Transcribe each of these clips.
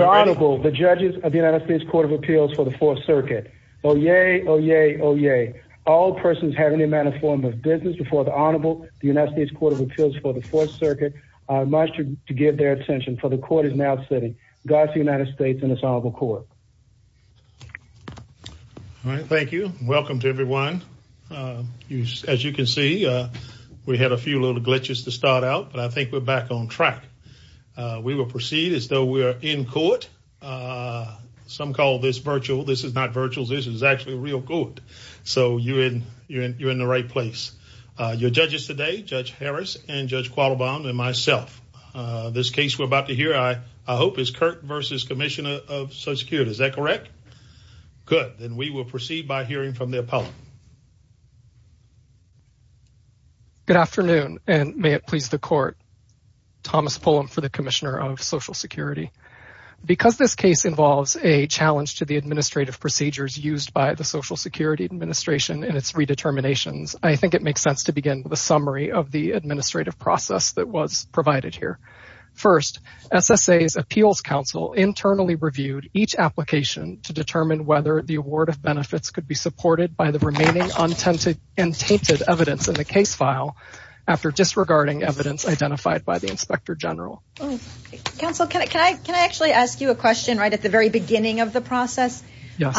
Honorable the judges of the United States Court of Appeals for the Fourth Circuit. Oh yay, oh yay, oh yay. All persons have any amount of form of business before the Honorable the United States Court of Appeals for the Fourth Circuit. I must to give their attention for the court is now sitting. Godspeed United States and it's Honorable Court. Thank you. Welcome to everyone. As you can see we had a few little glitches to start out but I think we're back on track. We will proceed as though we are in court. Some call this virtual. This is not virtual. This is actually real court. So you're in you're in the right place. Your judges today, Judge Harris and Judge Quattlebaum and myself. This case we're about to hear I hope is Kirk v. Commissioner of Social Security. Is that correct? Good. Then we will proceed by hearing from the appellant. Good afternoon and may it please the court. Thomas Pullum for the Commissioner of Social Security. Because this case involves a challenge to the administrative procedures used by the Social Security Administration and its redeterminations, I think it makes sense to begin with a summary of the administrative process that was provided here. First, SSA's Appeals Council internally reviewed each application to determine whether the award of benefits could be supported by the remaining untainted evidence in the case file after disregarding evidence identified by the Inspector General. Counsel, can I can I actually ask you a question right at the very beginning of the process? Yes.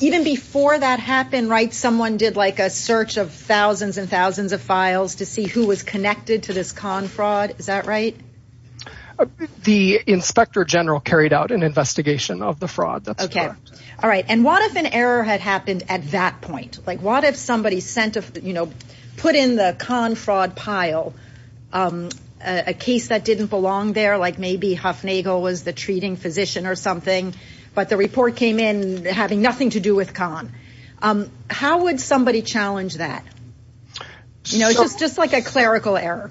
Even before that happened, right, someone did like a search of thousands and thousands of files to see who was connected to this con fraud. Is that right? The Inspector General carried out an investigation of the fraud. That's okay. All right and what if an error had happened at that point? Like what if somebody sent, you know, put in the con fraud pile a case that didn't belong there, like maybe Huffnagle was the treating physician or something, but the report came in having nothing to do with con. How would somebody challenge that? You know, it's just like a clerical error.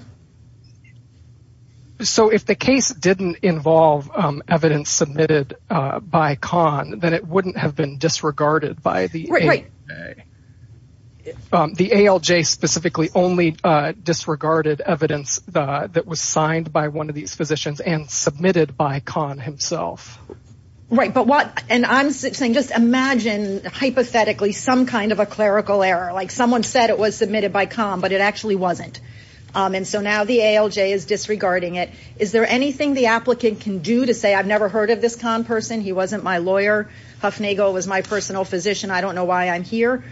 So if the case didn't involve evidence submitted by con, then it wouldn't have been disregarded by the the ALJ specifically only disregarded evidence that was signed by one of these physicians and submitted by con himself. Right, but what and I'm saying just imagine hypothetically some kind of a clerical error, like someone said it was submitted by con, but it actually wasn't. And so now the ALJ is disregarding it. Is there anything the applicant can do to say I've never heard of this con person, he wasn't my lawyer, Huffnagle was my personal physician, I don't know why I'm here?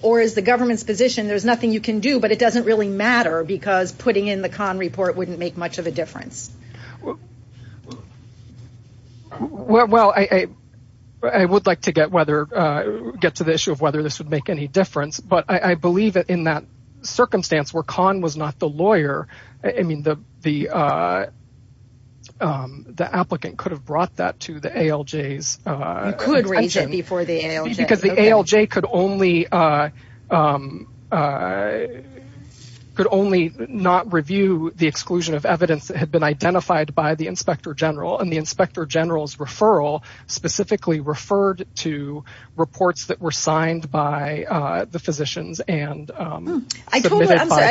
Or is the government's position there's nothing you can do, but it doesn't really matter because putting in the con report wouldn't make much of a difference? Well, I would like to get whether get to the issue of whether this would make any difference, but I believe that in that circumstance where con was not the lawyer, I mean the the the applicant could have brought that to the ALJ. Because the ALJ could only could only not review the exclusion of evidence that had been identified by the Inspector General and the Inspector General's referral specifically referred to reports that were signed by the physicians and submitted by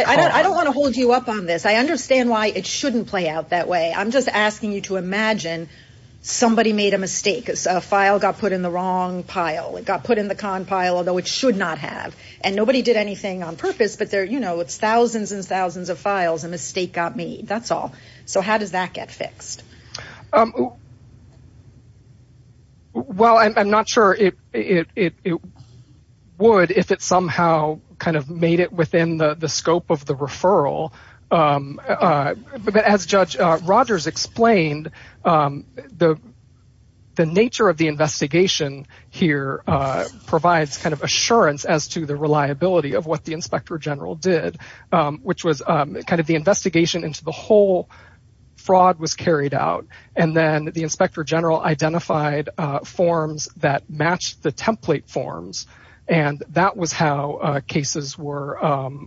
con. I don't want to hold you up on this. I understand why it shouldn't play out that way. I'm just asking you to imagine somebody made a file got put in the wrong pile, it got put in the con pile, although it should not have. And nobody did anything on purpose, but there you know it's thousands and thousands of files, a mistake got made, that's all. So how does that get fixed? Well, I'm not sure it would if it somehow kind of made it within the scope of the referral. But as Judge Rogers explained, the nature of the investigation here provides kind of assurance as to the reliability of what the Inspector General did, which was kind of the investigation into the whole fraud was carried out. And then the Inspector General identified forms that matched the template forms, and that was how cases were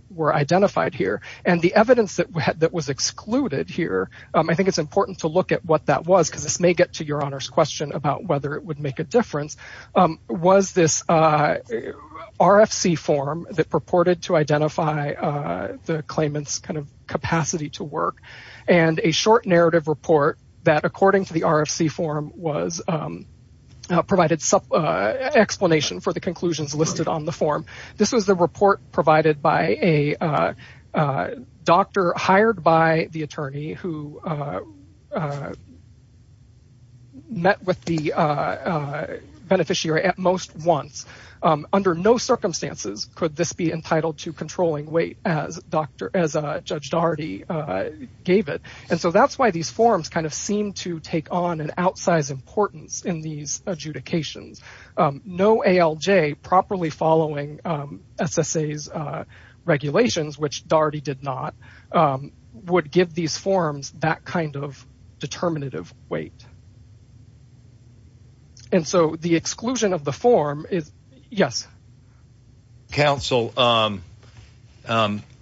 were identified here. And the evidence that was excluded here, I think it's important to look at what that was, because this may get to Your Honor's question about whether it would make a difference, was this RFC form that purported to identify the claimant's kind of capacity to work, and a short narrative report that according to the RFC form provided explanation for the conclusions listed on the form. This was the report provided by a doctor hired by the attorney who met with the beneficiary at most once. Under no circumstances could this be entitled to controlling weight as Judge Daugherty gave it. And so that's why these forms kind of seem to take on and outsize importance in these adjudications. No ALJ properly following SSA's regulations, which Daugherty did not, would give these forms that kind of determinative weight. And so the exclusion of the form is... Yes. Counsel,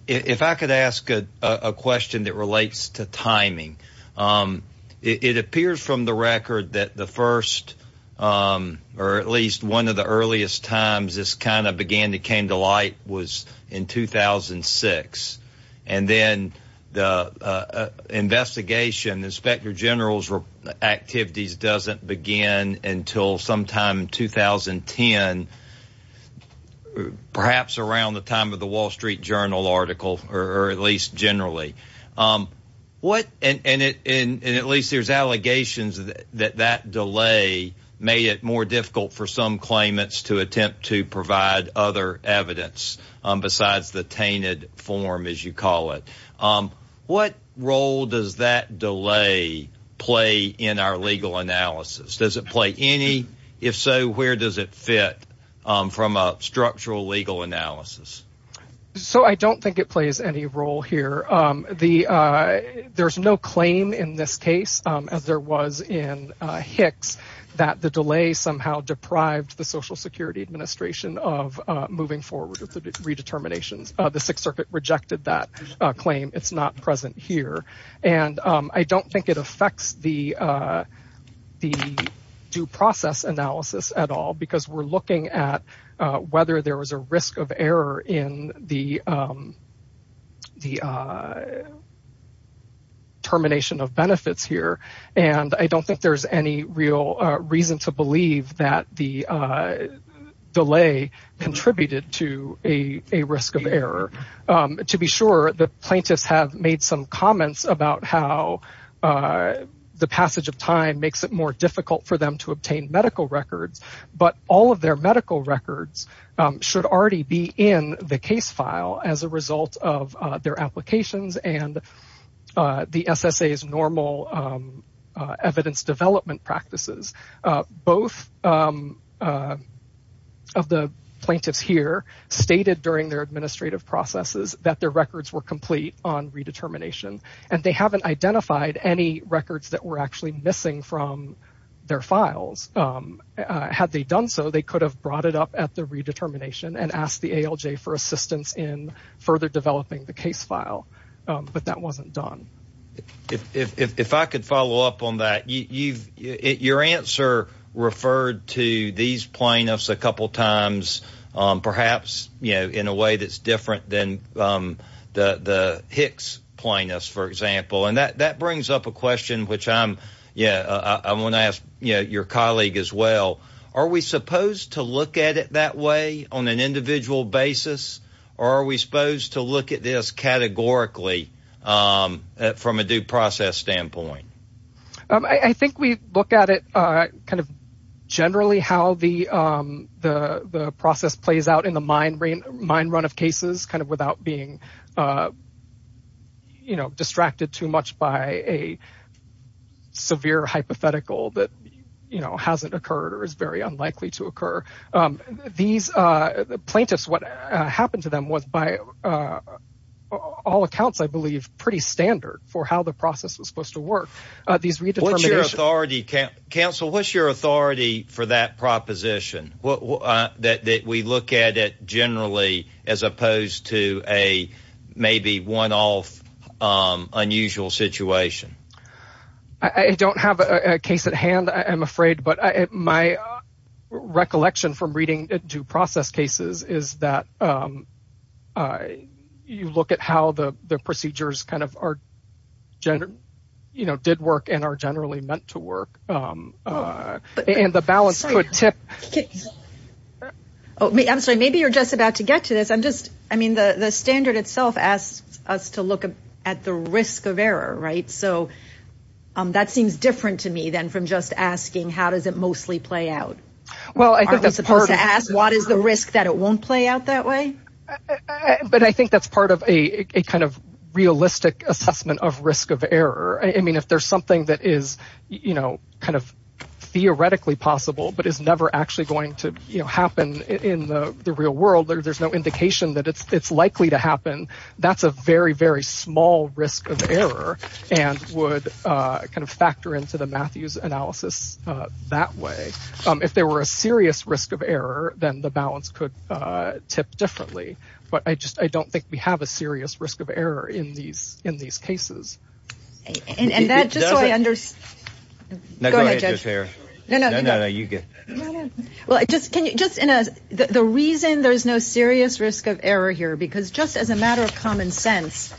if I could ask a question that relates to timing. It appears from the record that the first or at least one of the earliest times this kind of began to came to light was in 2006. And then the investigation, the Inspector General's activities doesn't begin until sometime in 2010, perhaps around the time of the Wall Street Journal article, or at least generally. And at least there's allegations that that delay made it more difficult for some claimants to attempt to provide other evidence besides the tainted form, as you call it. What role does that delay play in our legal analysis? Does it play any? If so, where does it fit from a structural legal analysis? So I don't think it plays any role here. There's no claim in this case, as there was in Hicks, that the delay somehow deprived the Social Security Administration of moving forward with the redeterminations. The Sixth Circuit rejected that claim. It's not present here. And I don't think it affects the due process analysis at all, because we're looking at whether there was a risk of error in the termination of benefits here. And I don't think there's any real reason to believe that the delay contributed to a risk of error. To be sure, the plaintiffs have made some comments about how the passage of time makes it more difficult for them to obtain medical records. But all of their medical records should already be in the case file as a result of their applications and the SSA's normal evidence development practices. Both of the plaintiffs here stated during their administrative processes that their records were complete on redetermination. And they haven't identified any records that were actually missing from their files. Had they done so, they could have brought it up at the redetermination and asked the ALJ for assistance in further developing the case file. But that wasn't done. If I could follow up on that. Your answer referred to these plaintiffs a couple times, perhaps in a way that's different than the Hicks plaintiffs, for example. And that brings up a question which I want to ask your colleague as well. Are we supposed to look at it that way on an individual basis? Or are we supposed to look at this categorically from a due process standpoint? I think we look at it kind of generally how the process plays out in the mind run of cases, kind of without being distracted too much by a severe hypothetical that hasn't occurred or is very unlikely to occur. These plaintiffs, what happened to them was by all accounts, I believe, pretty standard for how the process was supposed to work. Counsel, what's your authority for that proposition? That we look at it generally as opposed to a maybe one off unusual situation? I don't have a case at hand, I'm afraid. But my recollection from reading due process cases is that you look at how the procedures kind of are, you know, did work and are generally meant to work. And the balance could tip. Okay. I'm sorry, maybe you're just about to get to this. I mean, the standard itself asks us to look at the risk of error, right? So that seems different to me than from just asking how does it mostly play out? Aren't we supposed to ask what is the risk that it won't play out that way? But I think that's part of a kind of realistic assessment of risk of error. I mean, if there's that is, you know, kind of theoretically possible, but it's never actually going to happen in the real world, there's no indication that it's likely to happen. That's a very, very small risk of error and would kind of factor into the Matthews analysis that way. If there were a serious risk of error, then the balance could tip differently. But I just I don't think we have a No, go ahead, Judge. No, no, you go. Well, just in a the reason there's no serious risk of error here because just as a matter of common sense,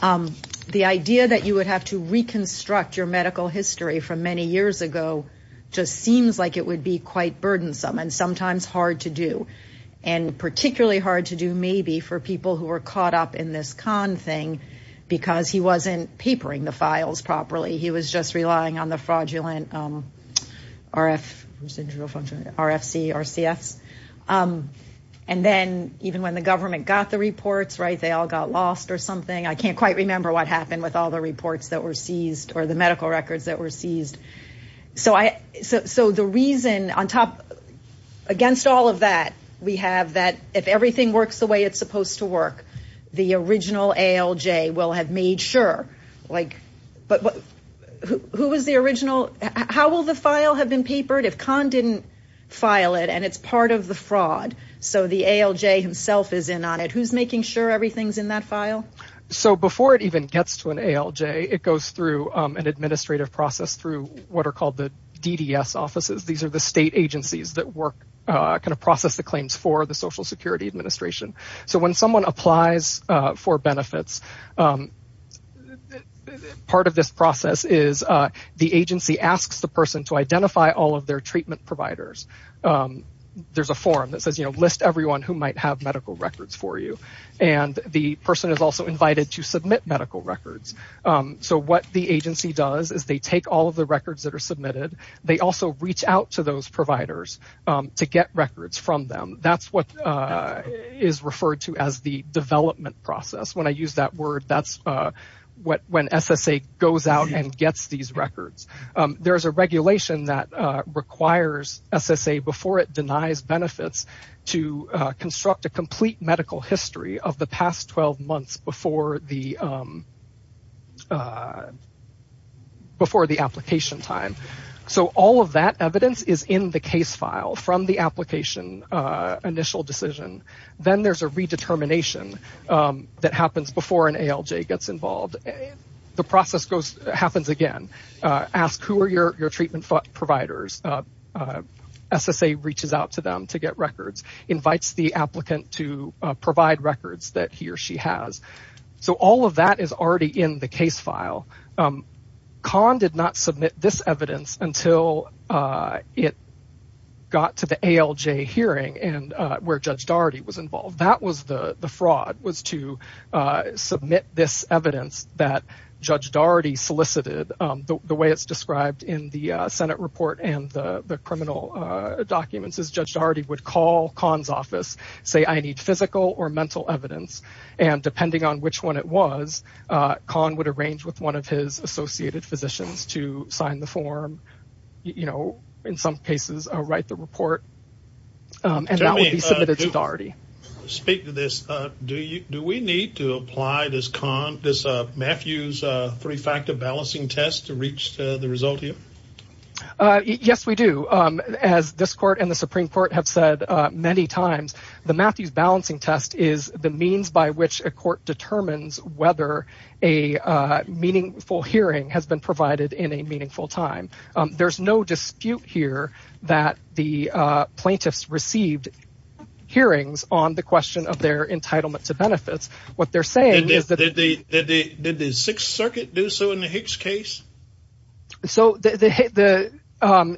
the idea that you would have to reconstruct your medical history from many years ago just seems like it would be quite burdensome and sometimes hard to do. And particularly hard to do maybe for people who are caught up in this con thing because he wasn't papering the files properly. He was just relying on the fraudulent RFC or CFs. And then even when the government got the reports, right, they all got lost or something. I can't quite remember what happened with all the reports that were seized or the medical records that were seized. So the reason on top against all of that, we have that if everything works the way it's supposed to work, the original ALJ will have made sure like but who was the original? How will the file have been papered if Khan didn't file it and it's part of the fraud? So the ALJ himself is in on it. Who's making sure everything's in that file? So before it even gets to an ALJ, it goes through an administrative process through what are called the DDS offices. These are the state agencies that work kind of process the part of this process is the agency asks the person to identify all of their treatment providers. There's a form that says, you know, list everyone who might have medical records for you. And the person is also invited to submit medical records. So what the agency does is they take all of the records that are submitted. They also reach out to those providers to get records from them. That's what is referred to as the development process. When I use that word, that's what when SSA goes out and gets these records. There's a regulation that requires SSA before it denies benefits to construct a complete medical history of the past 12 months before the before the application time. So all of that evidence is in the case file from the application initial decision. Then there's a redetermination that happens before an ALJ gets involved. The process goes happens again. Ask who are your treatment providers. SSA reaches out to them to get records. Invites the applicant to provide records that he or she has. So all of that is already in the case file. Khan did not submit this evidence until it got to the ALJ hearing and where Judge Daugherty was involved. That was the fraud was to submit this evidence that Judge Daugherty solicited. The way it's described in the Senate report and the criminal documents is Judge Daugherty would call Khan's office, say I need physical or mental evidence. And depending on which one it was, Khan would arrange with one of his associated physicians to the form. In some cases write the report. And that would be submitted to Daugherty. Speak to this. Do we need to apply this Matthews three-factor balancing test to reach the result? Yes, we do. As this court and the Supreme Court have said many times, the Matthews balancing test is the means by which a court determines whether a meaningful hearing has provided in a meaningful time. There's no dispute here that the plaintiffs received hearings on the question of their entitlement to benefits. Did the Sixth Circuit do so in the Hicks case? The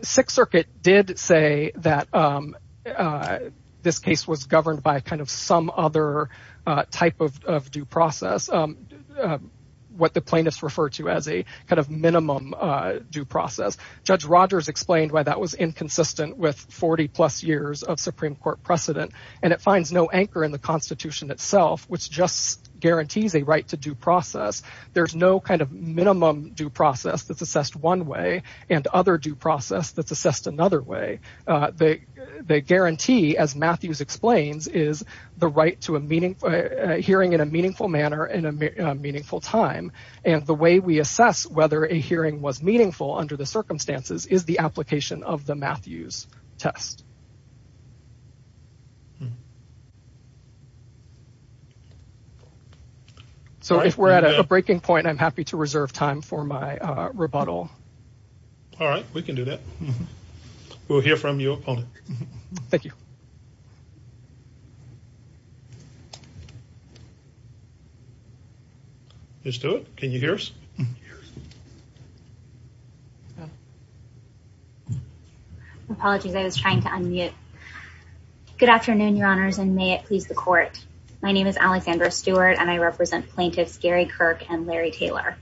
Sixth Circuit did say that this case was governed by kind of some other type of due minimum due process. Judge Rogers explained why that was inconsistent with 40 plus years of Supreme Court precedent. And it finds no anchor in the Constitution itself, which just guarantees a right to due process. There's no kind of minimum due process that's assessed one way and other due process that's assessed another way. They guarantee, as Matthews explains, is the right to a meaningful hearing in a meaningful manner in a meaningful time. And the way we assess whether a hearing was meaningful under the circumstances is the application of the Matthews test. So if we're at a breaking point, I'm happy to reserve time for my rebuttal. All right, we can do that. We'll hear from your opponent. Thank you. Ms. Stewart, can you hear us? Apologies, I was trying to unmute. Good afternoon, Your Honors, and may it please the court. My name is Alexandra Stewart, and I represent plaintiffs Gary Kirk and Larry Taylor.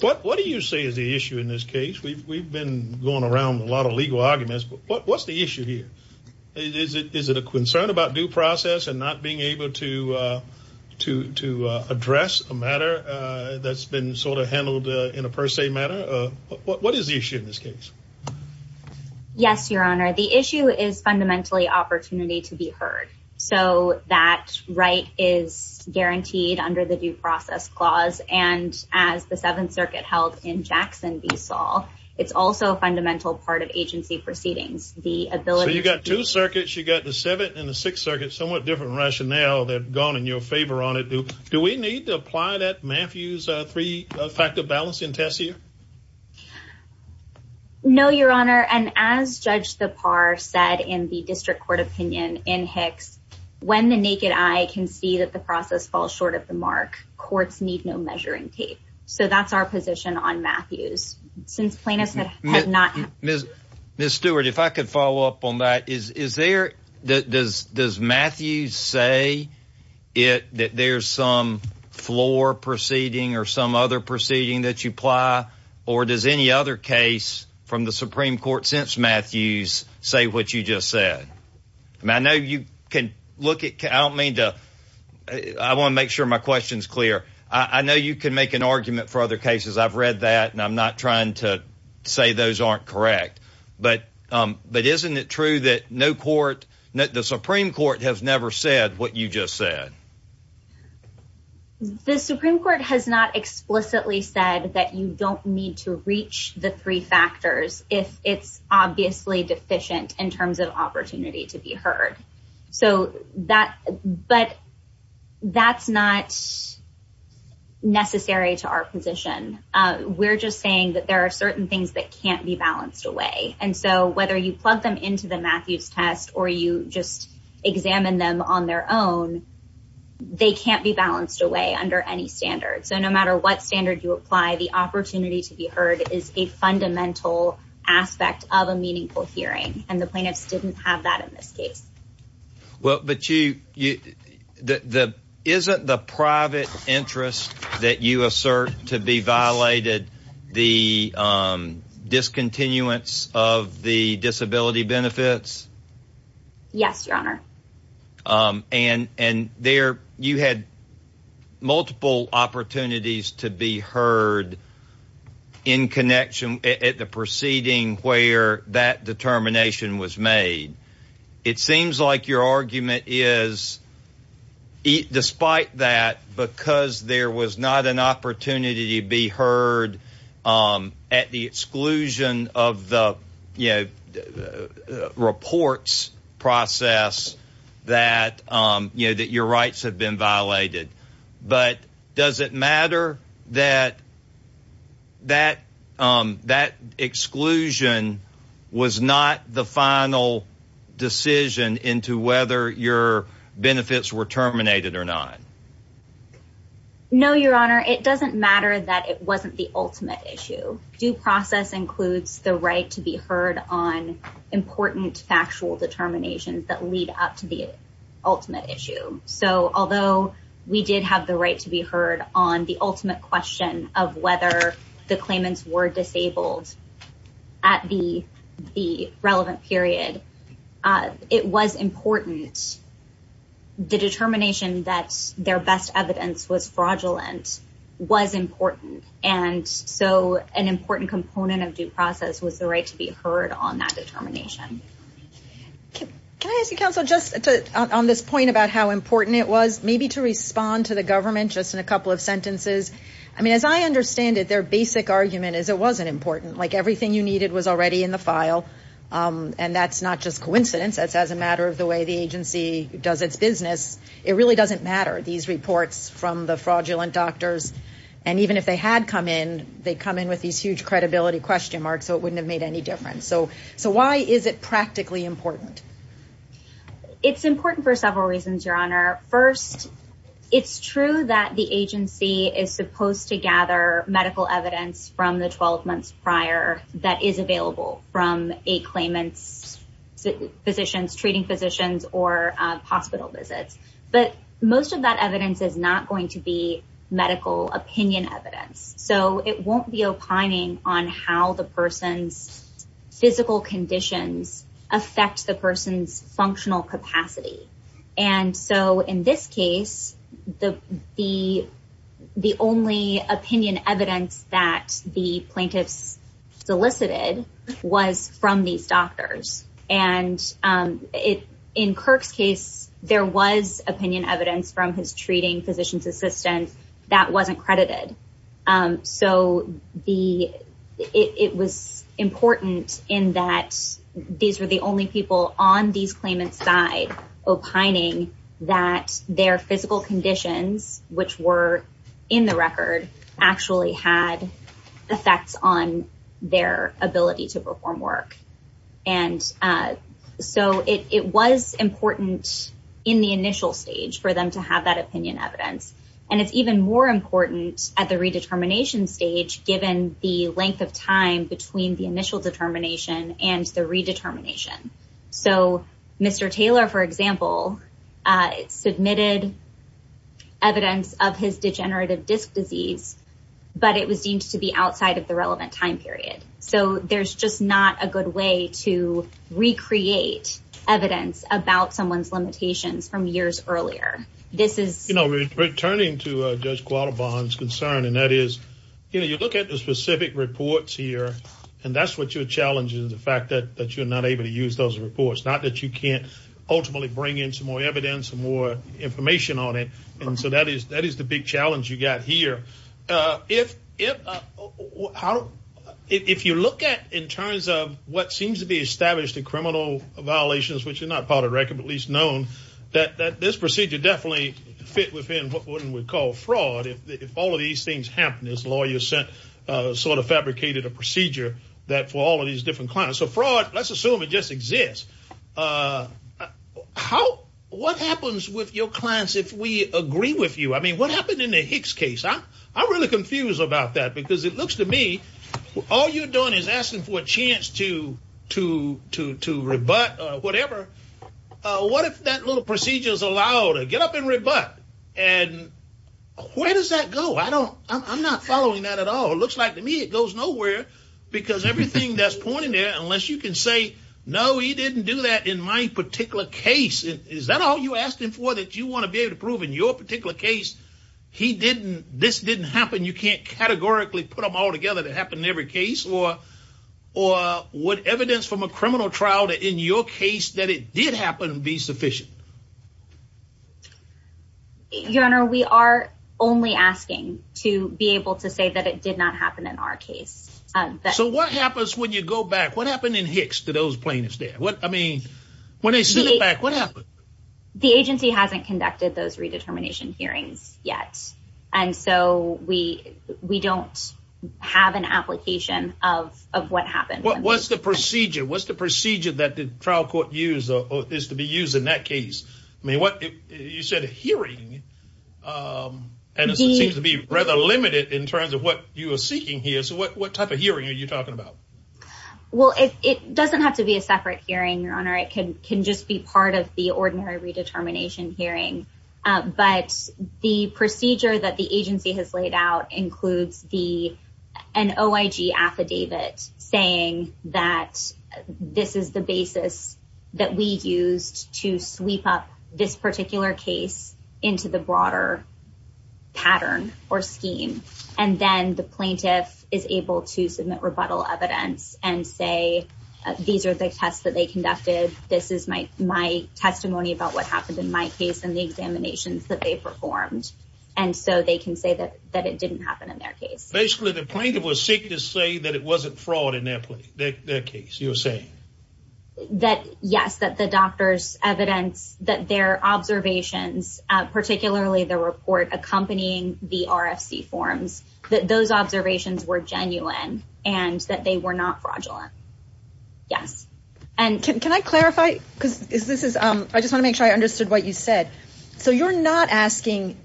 What do you say is the issue in this case? We've been going around a lot of legal arguments, what's the issue here? Is it a concern about due process and not being able to address a matter that's been sort of handled in a per se manner? What is the issue in this case? Yes, Your Honor, the issue is fundamentally opportunity to be heard. So that right is guaranteed under the due process clause, and as the Seventh Circuit held in Jackson v. Saul, it's also a fundamental part of agency proceedings. So you've got two circuits, you've got the Seventh and the Sixth Circuit, somewhat different rationale. They've gone in your favor on it. Do we need to apply that Matthews three factor balancing test here? No, Your Honor, and as Judge Thapar said in the district court opinion in Hicks, when the naked eye can see that the process falls short of the mark, courts need no measuring tape. So that's our position on Matthews. Since plaintiffs have not... Ms. Stewart, if I could follow up on that. Does Matthews say that there's some floor proceeding or some other proceeding that you apply, or does any other case from the Supreme Court since Matthews say what you just said? I want to make sure my question is clear. I know you can make an argument for other cases. I've read that and I'm not trying to say those aren't correct, but isn't it true that the Supreme Court has never said what you just said? The Supreme Court has not explicitly said that you don't need to reach the three factors if it's obviously deficient in terms of opportunity to be heard. But that's not necessary to our position. We're just saying that there are certain things that can't be balanced away. And so whether you plug them into the Matthews test or you just examine them on their own, they can't be balanced away under any standard. So no matter what standard you apply, the opportunity to be heard is a fundamental aspect of a meaningful hearing. And the plaintiffs didn't have that in this case. But isn't the private interest that you assert to be violated the discontinuance of the disability benefits? Yes, Your Honor. And you had multiple opportunities to be heard in connection at the proceeding where that determination was made. It seems like your argument is despite that, because there was not an opportunity to be heard at the exclusion of the reports process, that your rights have been violated. But does it matter that exclusion was not the final decision into whether your benefits were terminated or not? No, Your Honor. It doesn't matter that it wasn't the ultimate issue. Due process includes the right to be heard on important factual determinations that lead up to the ultimate issue. So although we did have the right to be heard on the ultimate question of whether the claimants were disabled at the relevant period, it was important. And the determination that their best evidence was fraudulent was important. And so an important component of due process was the right to be heard on that determination. Can I ask you, counsel, just on this point about how important it was, maybe to respond to the government just in a couple of sentences? I mean, as I understand it, their basic argument is it wasn't important. Like everything you needed was already in the file. And that's not just does its business. It really doesn't matter. These reports from the fraudulent doctors, and even if they had come in, they come in with these huge credibility question marks, so it wouldn't have made any difference. So why is it practically important? It's important for several reasons, Your Honor. First, it's true that the agency is supposed to gather medical evidence from the 12 months prior that is available from a claimant's physicians, treating physicians, or hospital visits. But most of that evidence is not going to be medical opinion evidence. So it won't be opining on how the person's physical conditions affect the person's functional capacity. And so in this case, the only opinion evidence that the plaintiffs solicited was from these doctors. And in Kirk's case, there was opinion evidence from his treating physician's assistant that wasn't credited. So it was important in that these were the only people on these claimants' side opining that their physical conditions, which were in the record, actually had effects on their ability to perform work. And so it was important in the initial stage for them to have that opinion evidence. And it's even more important at the redetermination stage, given the length of time between the initial determination and the redetermination. So Mr. Taylor, for example, submitted evidence of his degenerative disc disease, but it was deemed to be outside of the relevant time period. So there's just not a good way to recreate evidence about someone's limitations from years earlier. This is... You know, returning to Judge Qualibon's concern, and that is, you know, you look at the specific reports here, and that's what your challenge is, the fact that you're not able to use those reports. Not that you can't ultimately bring more evidence and more information on it. And so that is the big challenge you got here. If you look at in terms of what seems to be established in criminal violations, which are not part of the record, but at least known, that this procedure definitely fit within what we would call fraud. If all of these things happened, this lawyer sort of fabricated a procedure for all of these different clients. So fraud, let's assume it just what happens with your clients if we agree with you? I mean, what happened in the Hicks case? I'm really confused about that because it looks to me, all you're doing is asking for a chance to rebut or whatever. What if that little procedure is allowed to get up and rebut? And where does that go? I don't... I'm not following that at all. It looks like to me, it goes nowhere because everything that's pointed there, unless you can say, no, he didn't do that in my particular case. Is that all you asked him for that you want to be able to prove in your particular case? He didn't, this didn't happen. You can't categorically put them all together to happen in every case or what evidence from a criminal trial that in your case that it did happen would be sufficient? Your Honor, we are only asking to be able to say that it did not happen in our case. So what happens when you go back? What happened in Hicks to those plaintiffs there? I mean, when they sent it back, what happened? The agency hasn't conducted those redetermination hearings yet. And so we don't have an application of what happened. What's the procedure? What's the procedure that the trial court used or is to be used in that case? I mean, what you said a hearing and it seems to be rather limited in terms of what you are seeking here. What type of hearing are you talking about? Well, it doesn't have to be a separate hearing, Your Honor. It can just be part of the ordinary redetermination hearing. But the procedure that the agency has laid out includes an OIG affidavit saying that this is the basis that we used to sweep up this particular case into the broader pattern or scheme. And then the plaintiff is able to submit rebuttal evidence and say, these are the tests that they conducted. This is my testimony about what happened in my case and the examinations that they performed. And so they can say that it didn't happen in their case. Basically, the plaintiff was sick to say that it wasn't fraud in their case, you're saying? That yes, that the doctor's evidence, that their observations, particularly the report accompanying the RFC forms, that those observations were genuine and that they were not fraudulent. Yes. And can I clarify? Because this is I just want to make sure I understood what you said. So you're not asking.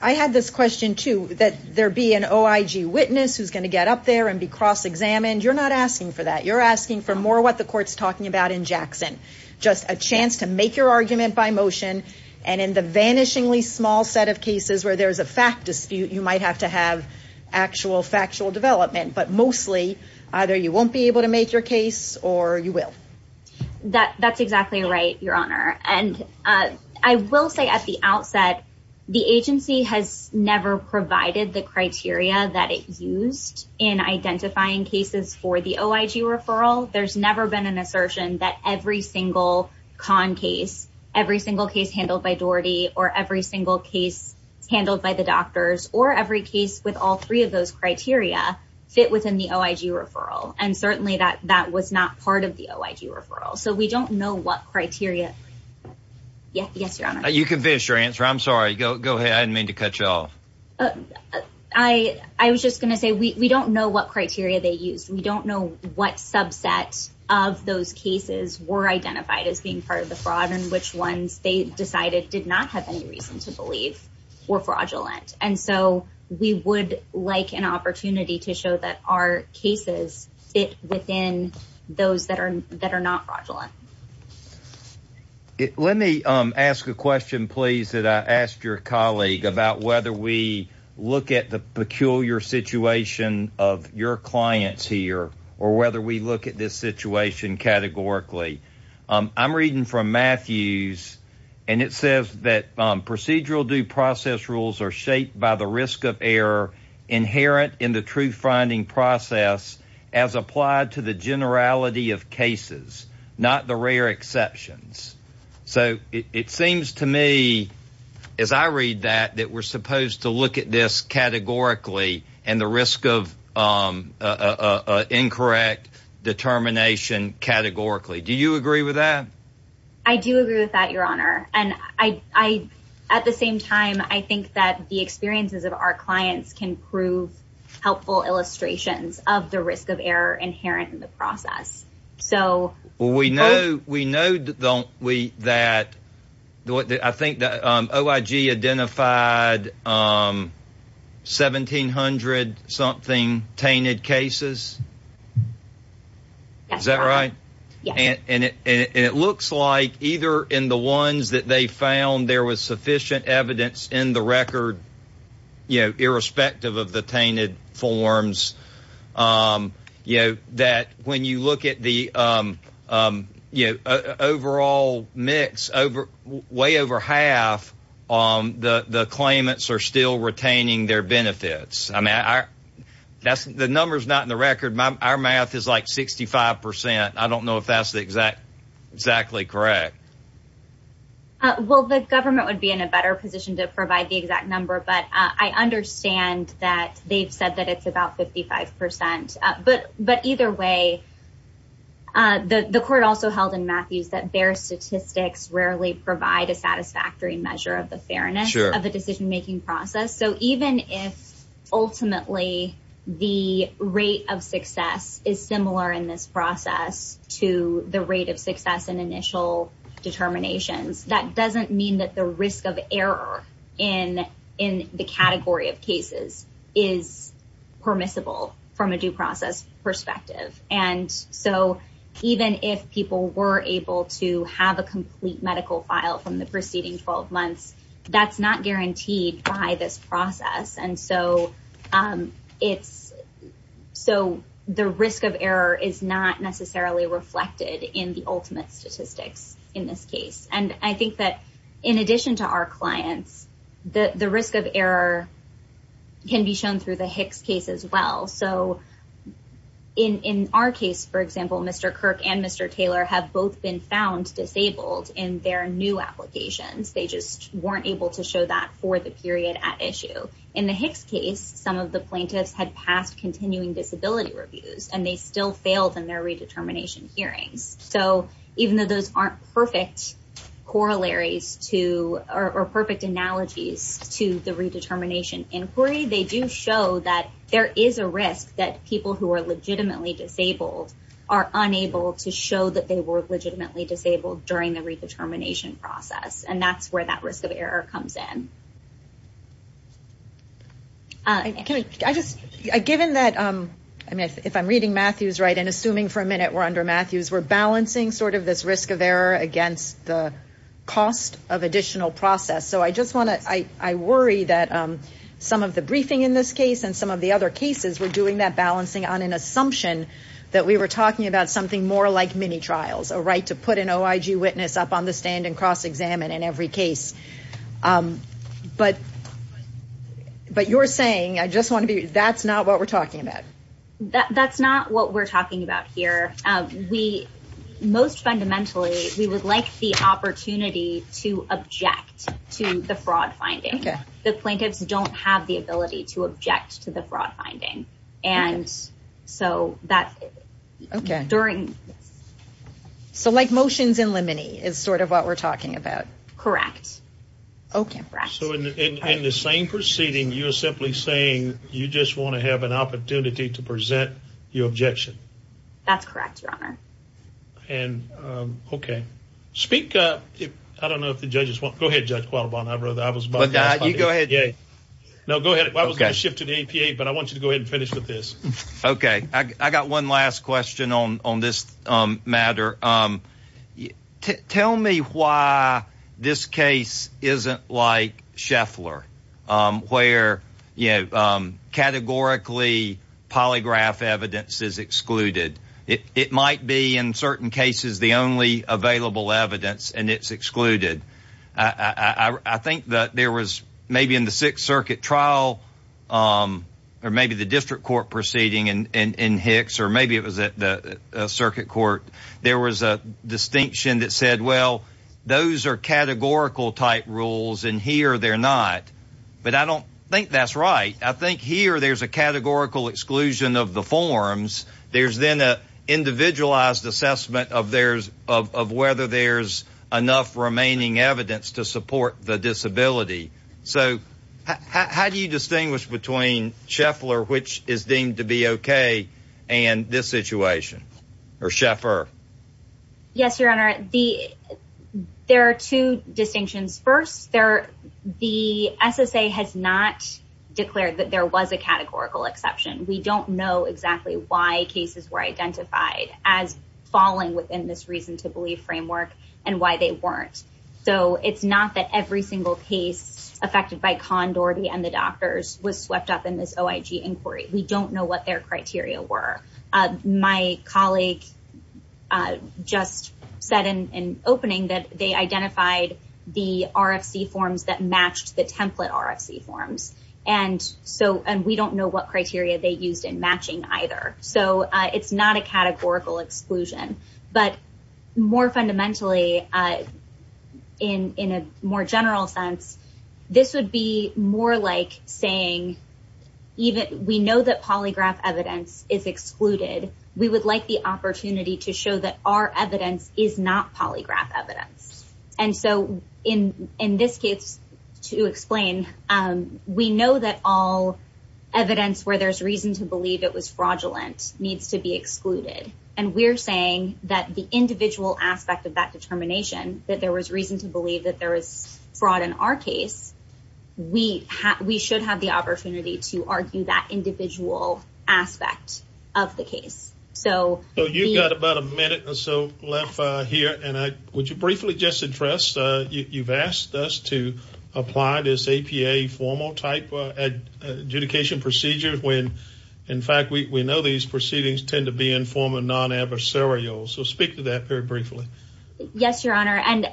I had this question, too, that there be an OIG witness who's going to get up there and be cross-examined. You're not asking for that. You're asking for more what the court's talking about in Jackson, just a chance to make your argument by motion. And in the vanishingly small set of cases where there's a fact dispute, you might have to have actual factual development. But mostly, either you won't be able to make your case or you will. That that's exactly right, Your Honor. And I will say at the outset, the agency has never provided the criteria that it used in identifying cases for the OIG referral. There's never been an assertion that every single con case, every single case handled by Daugherty or every single case handled by the doctors or every case with all three of those criteria fit within the OIG referral. And certainly that that was not part of the OIG referral. So we don't know what criteria. Yes, Your Honor. You can finish your answer. I'm sorry. Go ahead. I didn't mean to cut you off. I was just going to say we don't know what criteria they used. We don't know what subset of those cases were identified as being part of the fraud and which ones they decided did not have any reason to believe were fraudulent. And so we would like an opportunity to show that our cases fit within those that are that are not fraudulent. It let me ask a question, please, that I asked your colleague about whether we look at the peculiar situation of your clients here or whether we look at this situation categorically. I'm reading from Matthews and it says that procedural due process rules are shaped by the risk of error inherent in the truth finding process as applied to the generality of cases, not the rare exceptions. So it seems to me, as I read that, that we're supposed to look at this categorically and the risk of incorrect determination categorically. Do you agree with that? I do agree with that, Your Honor. And I at the same time, I think that the experiences of our We know, we know, don't we, that I think that OIG identified 1700 something tainted cases. Is that right? And it looks like either in the ones that they found there was sufficient evidence in the record, you know, irrespective of the tainted forms, you know, that when you look at the you know, overall mix over way over half on the claimants are still retaining their benefits. I mean, that's the numbers, not in the record. Our math is like 65 percent. I don't know if that's exactly correct. Well, the government would be in a better position to provide the exact number, but I understand that they've said that it's about 55 percent. But either way, the court also held in Matthews that their statistics rarely provide a satisfactory measure of the fairness of the decision making process. So even if ultimately the rate of success is similar in this process to the rate of success in initial determinations, that doesn't mean that the risk of error in the category of cases is permissible from a due process perspective. And so even if people were able to have a complete medical file from the preceding 12 months, that's not guaranteed by this process. And so it's so the risk of error is not necessarily reflected in the ultimate statistics in this case. And I think that in addition to our clients, the risk of error can be shown through the Hicks case as well. So in our case, for example, Mr. Kirk and Mr. Taylor have both been found disabled in their new applications. They just weren't able to show that for the period at issue. In the Hicks case, some of the plaintiffs had passed continuing disability reviews and they still failed in their redetermination hearings. So even though those aren't perfect corollaries or perfect analogies to the redetermination inquiry, they do show that there is a risk that people who are legitimately disabled are unable to show that they were legitimately disabled during the redetermination process. And that's where that risk of error comes in. Given that, if I'm reading Matthews right and assuming for a minute we're under Matthews, we're balancing sort of this risk of error against the cost of additional process. So I worry that some of the briefing in this case and some of the other cases were doing that balancing on an assumption that we were talking about something more like mini trials, a right to put an OIG witness up on the stand and cross-examine in every case. But you're saying, I just want to be, that's not what we're talking about. That's not what we're talking about here. We, most fundamentally, we would like the opportunity to object to the fraud finding. The plaintiffs don't have the ability to object to the fraud finding. And so that during... So like motions in limine is sort of what we're talking about. Correct. Okay. So in the same proceeding, you're simply saying you just want to have an opportunity to present your objection. That's correct, Your Honor. And, okay. Speak, I don't know if the judges want... Go ahead, Judge Qualibon. I was about to... You go ahead. No, go ahead. I was going to shift to the APA, but I want you to go ahead and finish with this. Okay. I got one last question on this matter. Tell me why this case isn't like Scheffler, where categorically polygraph evidence is excluded. It might be, in certain cases, the only available evidence and it's excluded. I think that there was maybe in the Sixth Circuit trial, or maybe the district court proceeding in Hicks, or maybe it was at the circuit court, there was a distinction that said, well, those are categorical type rules and here they're not. But I don't think that's right. I think here there's a categorical exclusion of the forms. There's then an individualized assessment of whether there's enough remaining evidence to support the disability. So how do you distinguish between Scheffler, which is deemed to be okay, and this situation, or Scheffer? Yes, Your Honor. There are two distinctions. First, the SSA has not declared that there was a categorical exception. We don't know exactly why cases were identified as falling within this reason to believe framework and why they weren't. So it's not that every single case affected by Condordi and the doctors was swept up in this OIG inquiry. We don't know what their criteria were. My colleague just said in opening that they identified the RFC forms that matched the template RFC forms. And we don't know what criteria they used in matching either. So it's not a categorical exclusion. But more fundamentally, in a more general sense, this would be more like saying, we know that polygraph evidence is excluded. We would like the opportunity to show that our evidence is not polygraph evidence. And so in this case, to explain, we know that all evidence where there's reason to believe it was fraudulent needs to be excluded. And we're saying that the individual aspect of that determination, that there was reason to believe that there was fraud in our case, we should have the opportunity to argue that individual aspect of the case. So you've got about a minute or so left here. And would you briefly just address, you've asked us to apply this APA formal type adjudication procedure when, in fact, we know these proceedings tend to be informal, non-adversarial. So speak to that very briefly. Yes, Your Honor. And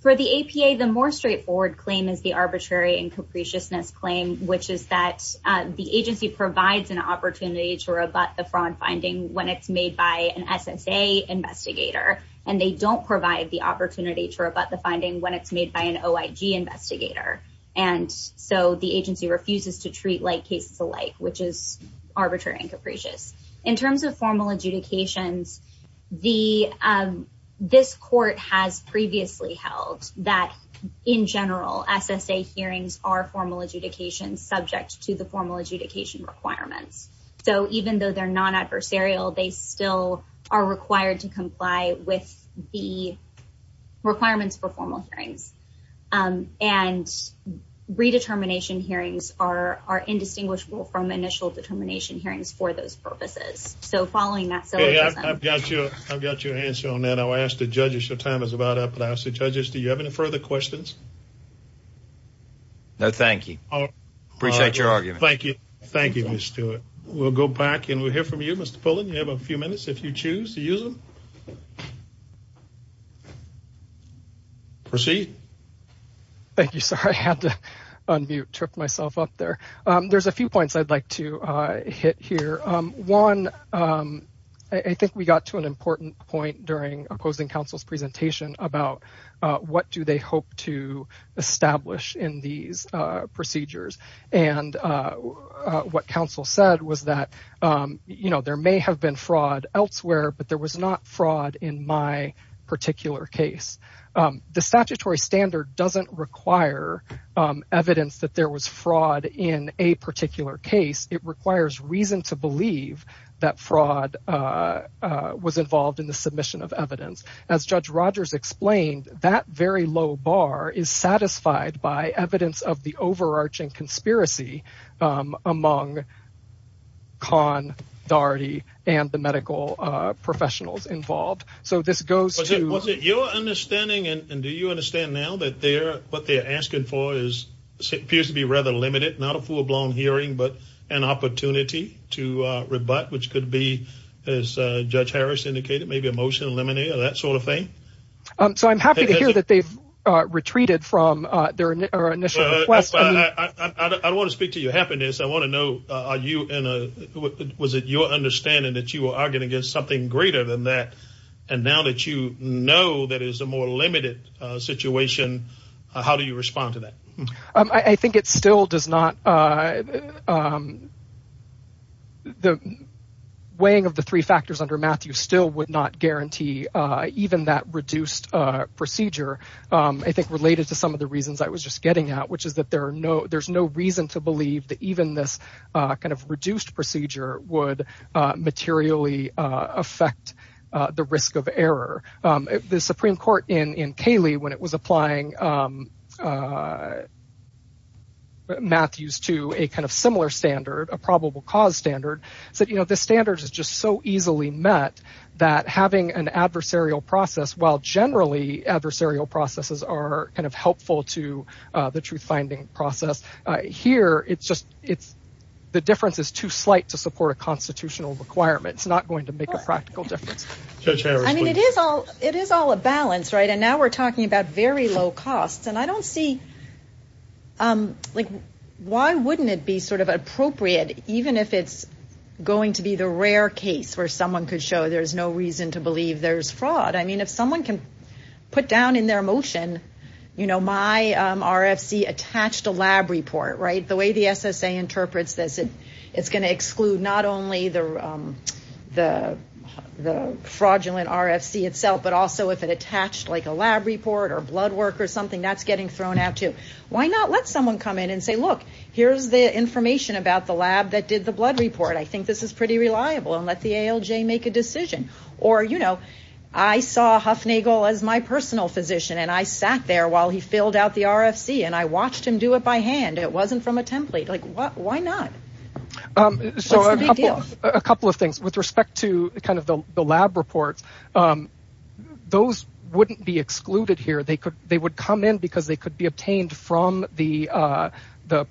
for the APA, the more straightforward claim is the arbitrary and capriciousness claim, which is that the agency provides an opportunity to rebut the fraud finding when it's made by an SSA investigator. And they don't provide the opportunity to rebut the finding when it's made by an OIG investigator. And so the agency refuses to treat like cases which is arbitrary and capricious. In terms of formal adjudications, this court has previously held that, in general, SSA hearings are formal adjudications subject to the formal adjudication requirements. So even though they're non-adversarial, they still are required to comply with the initial determination hearings for those purposes. So following that syllogism. I've got your answer on that. I'll ask the judges. Your time is about up. But I'll ask the judges, do you have any further questions? No, thank you. Appreciate your argument. Thank you. Thank you, Ms. Stewart. We'll go back and we'll hear from you, Mr. Pullen. You have a few minutes if you choose to use them. Proceed. Thank you, sir. I had to unmute, trip myself up there. There's a few points I'd like to hit here. One, I think we got to an important point during opposing counsel's presentation about what do they hope to establish in these procedures. And what counsel said was that, you know, there may have been fraud elsewhere, but there was not fraud in my particular case. The statutory standard doesn't require evidence that there was fraud in a particular case. It requires reason to believe that fraud was involved in the submission of evidence. As Judge Rogers explained, that very low bar is satisfied by evidence of the overarching conspiracy among Khan, Doherty and the medical professionals involved. So this goes to your understanding. And do you understand now that they're what they're asking for is appears to be rather limited, not a full blown hearing, but an opportunity to rebut, which could be, as Judge Harris indicated, maybe a motion to eliminate or that sort of thing. So I'm happy to hear that they've retreated from their initial request. I want to speak to your happiness. I want to know, are you in a, was it your understanding that you were arguing against something greater than that? And now that you know that is a more I think it still does not. The weighing of the three factors under Matthew still would not guarantee even that reduced procedure, I think, related to some of the reasons I was just getting out, which is that there are no there's no reason to believe that even this kind of reduced procedure would materially affect the risk of error. The Supreme Court in Kaley, when it was applying a Matthews to a kind of similar standard, a probable cause standard, said, you know, the standards is just so easily met that having an adversarial process, while generally adversarial processes are kind of helpful to the truth finding process here. It's just it's the difference is too slight to support a constitutional requirement. It's not going to make a practical difference. I mean, it is all it is all a balance. Right. And now we're talking about very low costs. And I don't see like, why wouldn't it be sort of appropriate, even if it's going to be the rare case where someone could show there's no reason to believe there's fraud? I mean, if someone can put down in their motion, you know, my RFC attached a lab report, right? The way the SSA interprets this, it's going to exclude not only the fraudulent RFC itself, but also if it attached like a lab report or blood work or something that's getting thrown out to why not let someone come in and say, look, here's the information about the lab that did the blood report. I think this is pretty reliable and let the ALJ make a decision. Or, you know, I saw Huffnagle as my personal physician and I sat there while he filled out the RFC and I watched him do it by hand. It wasn't from a template. Like what? Why not? So a couple of things with respect to kind of the lab reports, those wouldn't be excluded here. They would come in because they could be obtained from the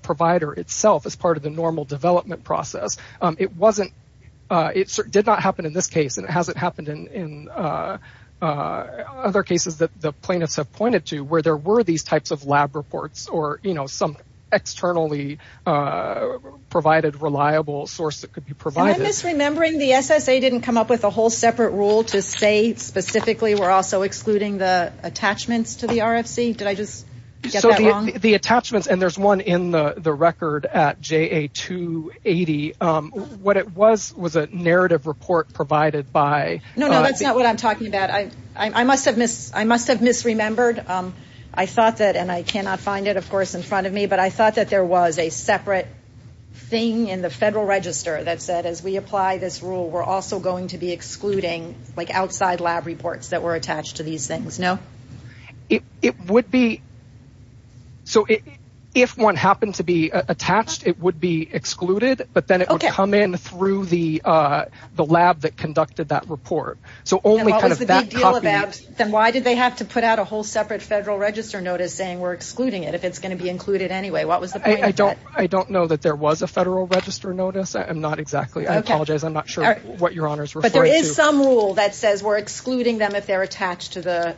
provider itself as part of the normal development process. It did not happen in this case and it hasn't happened in other cases that the plaintiffs have pointed to where there were these types of lab reports or, you know, some externally provided reliable source that could be provided. I'm misremembering the SSA didn't come up with a whole separate rule to say specifically we're also excluding the attachments to the RFC. Did I just get that wrong? So the attachments, and there's one in the record at JA280, what it was was a narrative report provided by No, no, that's not what I'm talking about. I must have misremembered. I thought that, and I cannot find it, of course, in front of me, but I thought that there was a separate thing in the Federal Register that said as we apply this rule, we're also going to be excluding like outside lab reports that were attached to these things, no? It would be, so if one happened to be attached, it would be excluded, but then it would come in through the lab that conducted that report. So only kind of that copy. Then why did they have to put out a whole separate Federal Register notice saying we're excluding it if it's going to be included anyway? What was the point? I don't know that there was a Federal Register notice. I'm not exactly, I apologize. I'm not sure what Your Honor is referring to. But there is some rule that says we're excluding them if they're attached to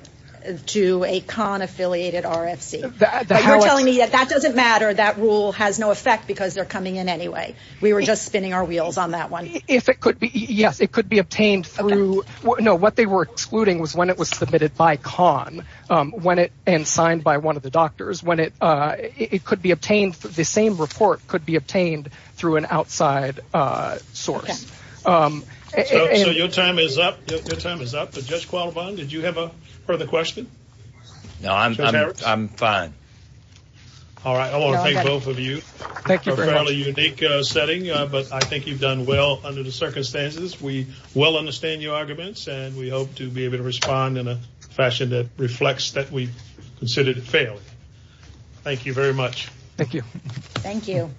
a CON-affiliated RFC. But you're telling me that that doesn't matter, that rule has no effect because they're coming in anyway. We were just spinning our wheels on that one. If it could be, yes, it could be obtained through, no, what they were excluding was when it was submitted by CON, when it, and signed by one of the doctors, when it, it could be obtained, the same report could be obtained through an outside source. So your time is up, your time is up, but Judge Qualibon, did you have a further question? No, I'm fine. All right, I want to thank both of you. Thank you very much. A fairly unique setting, but I think you've done well under the fashion that reflects that we considered it failed. Thank you very much. Thank you. Thank you.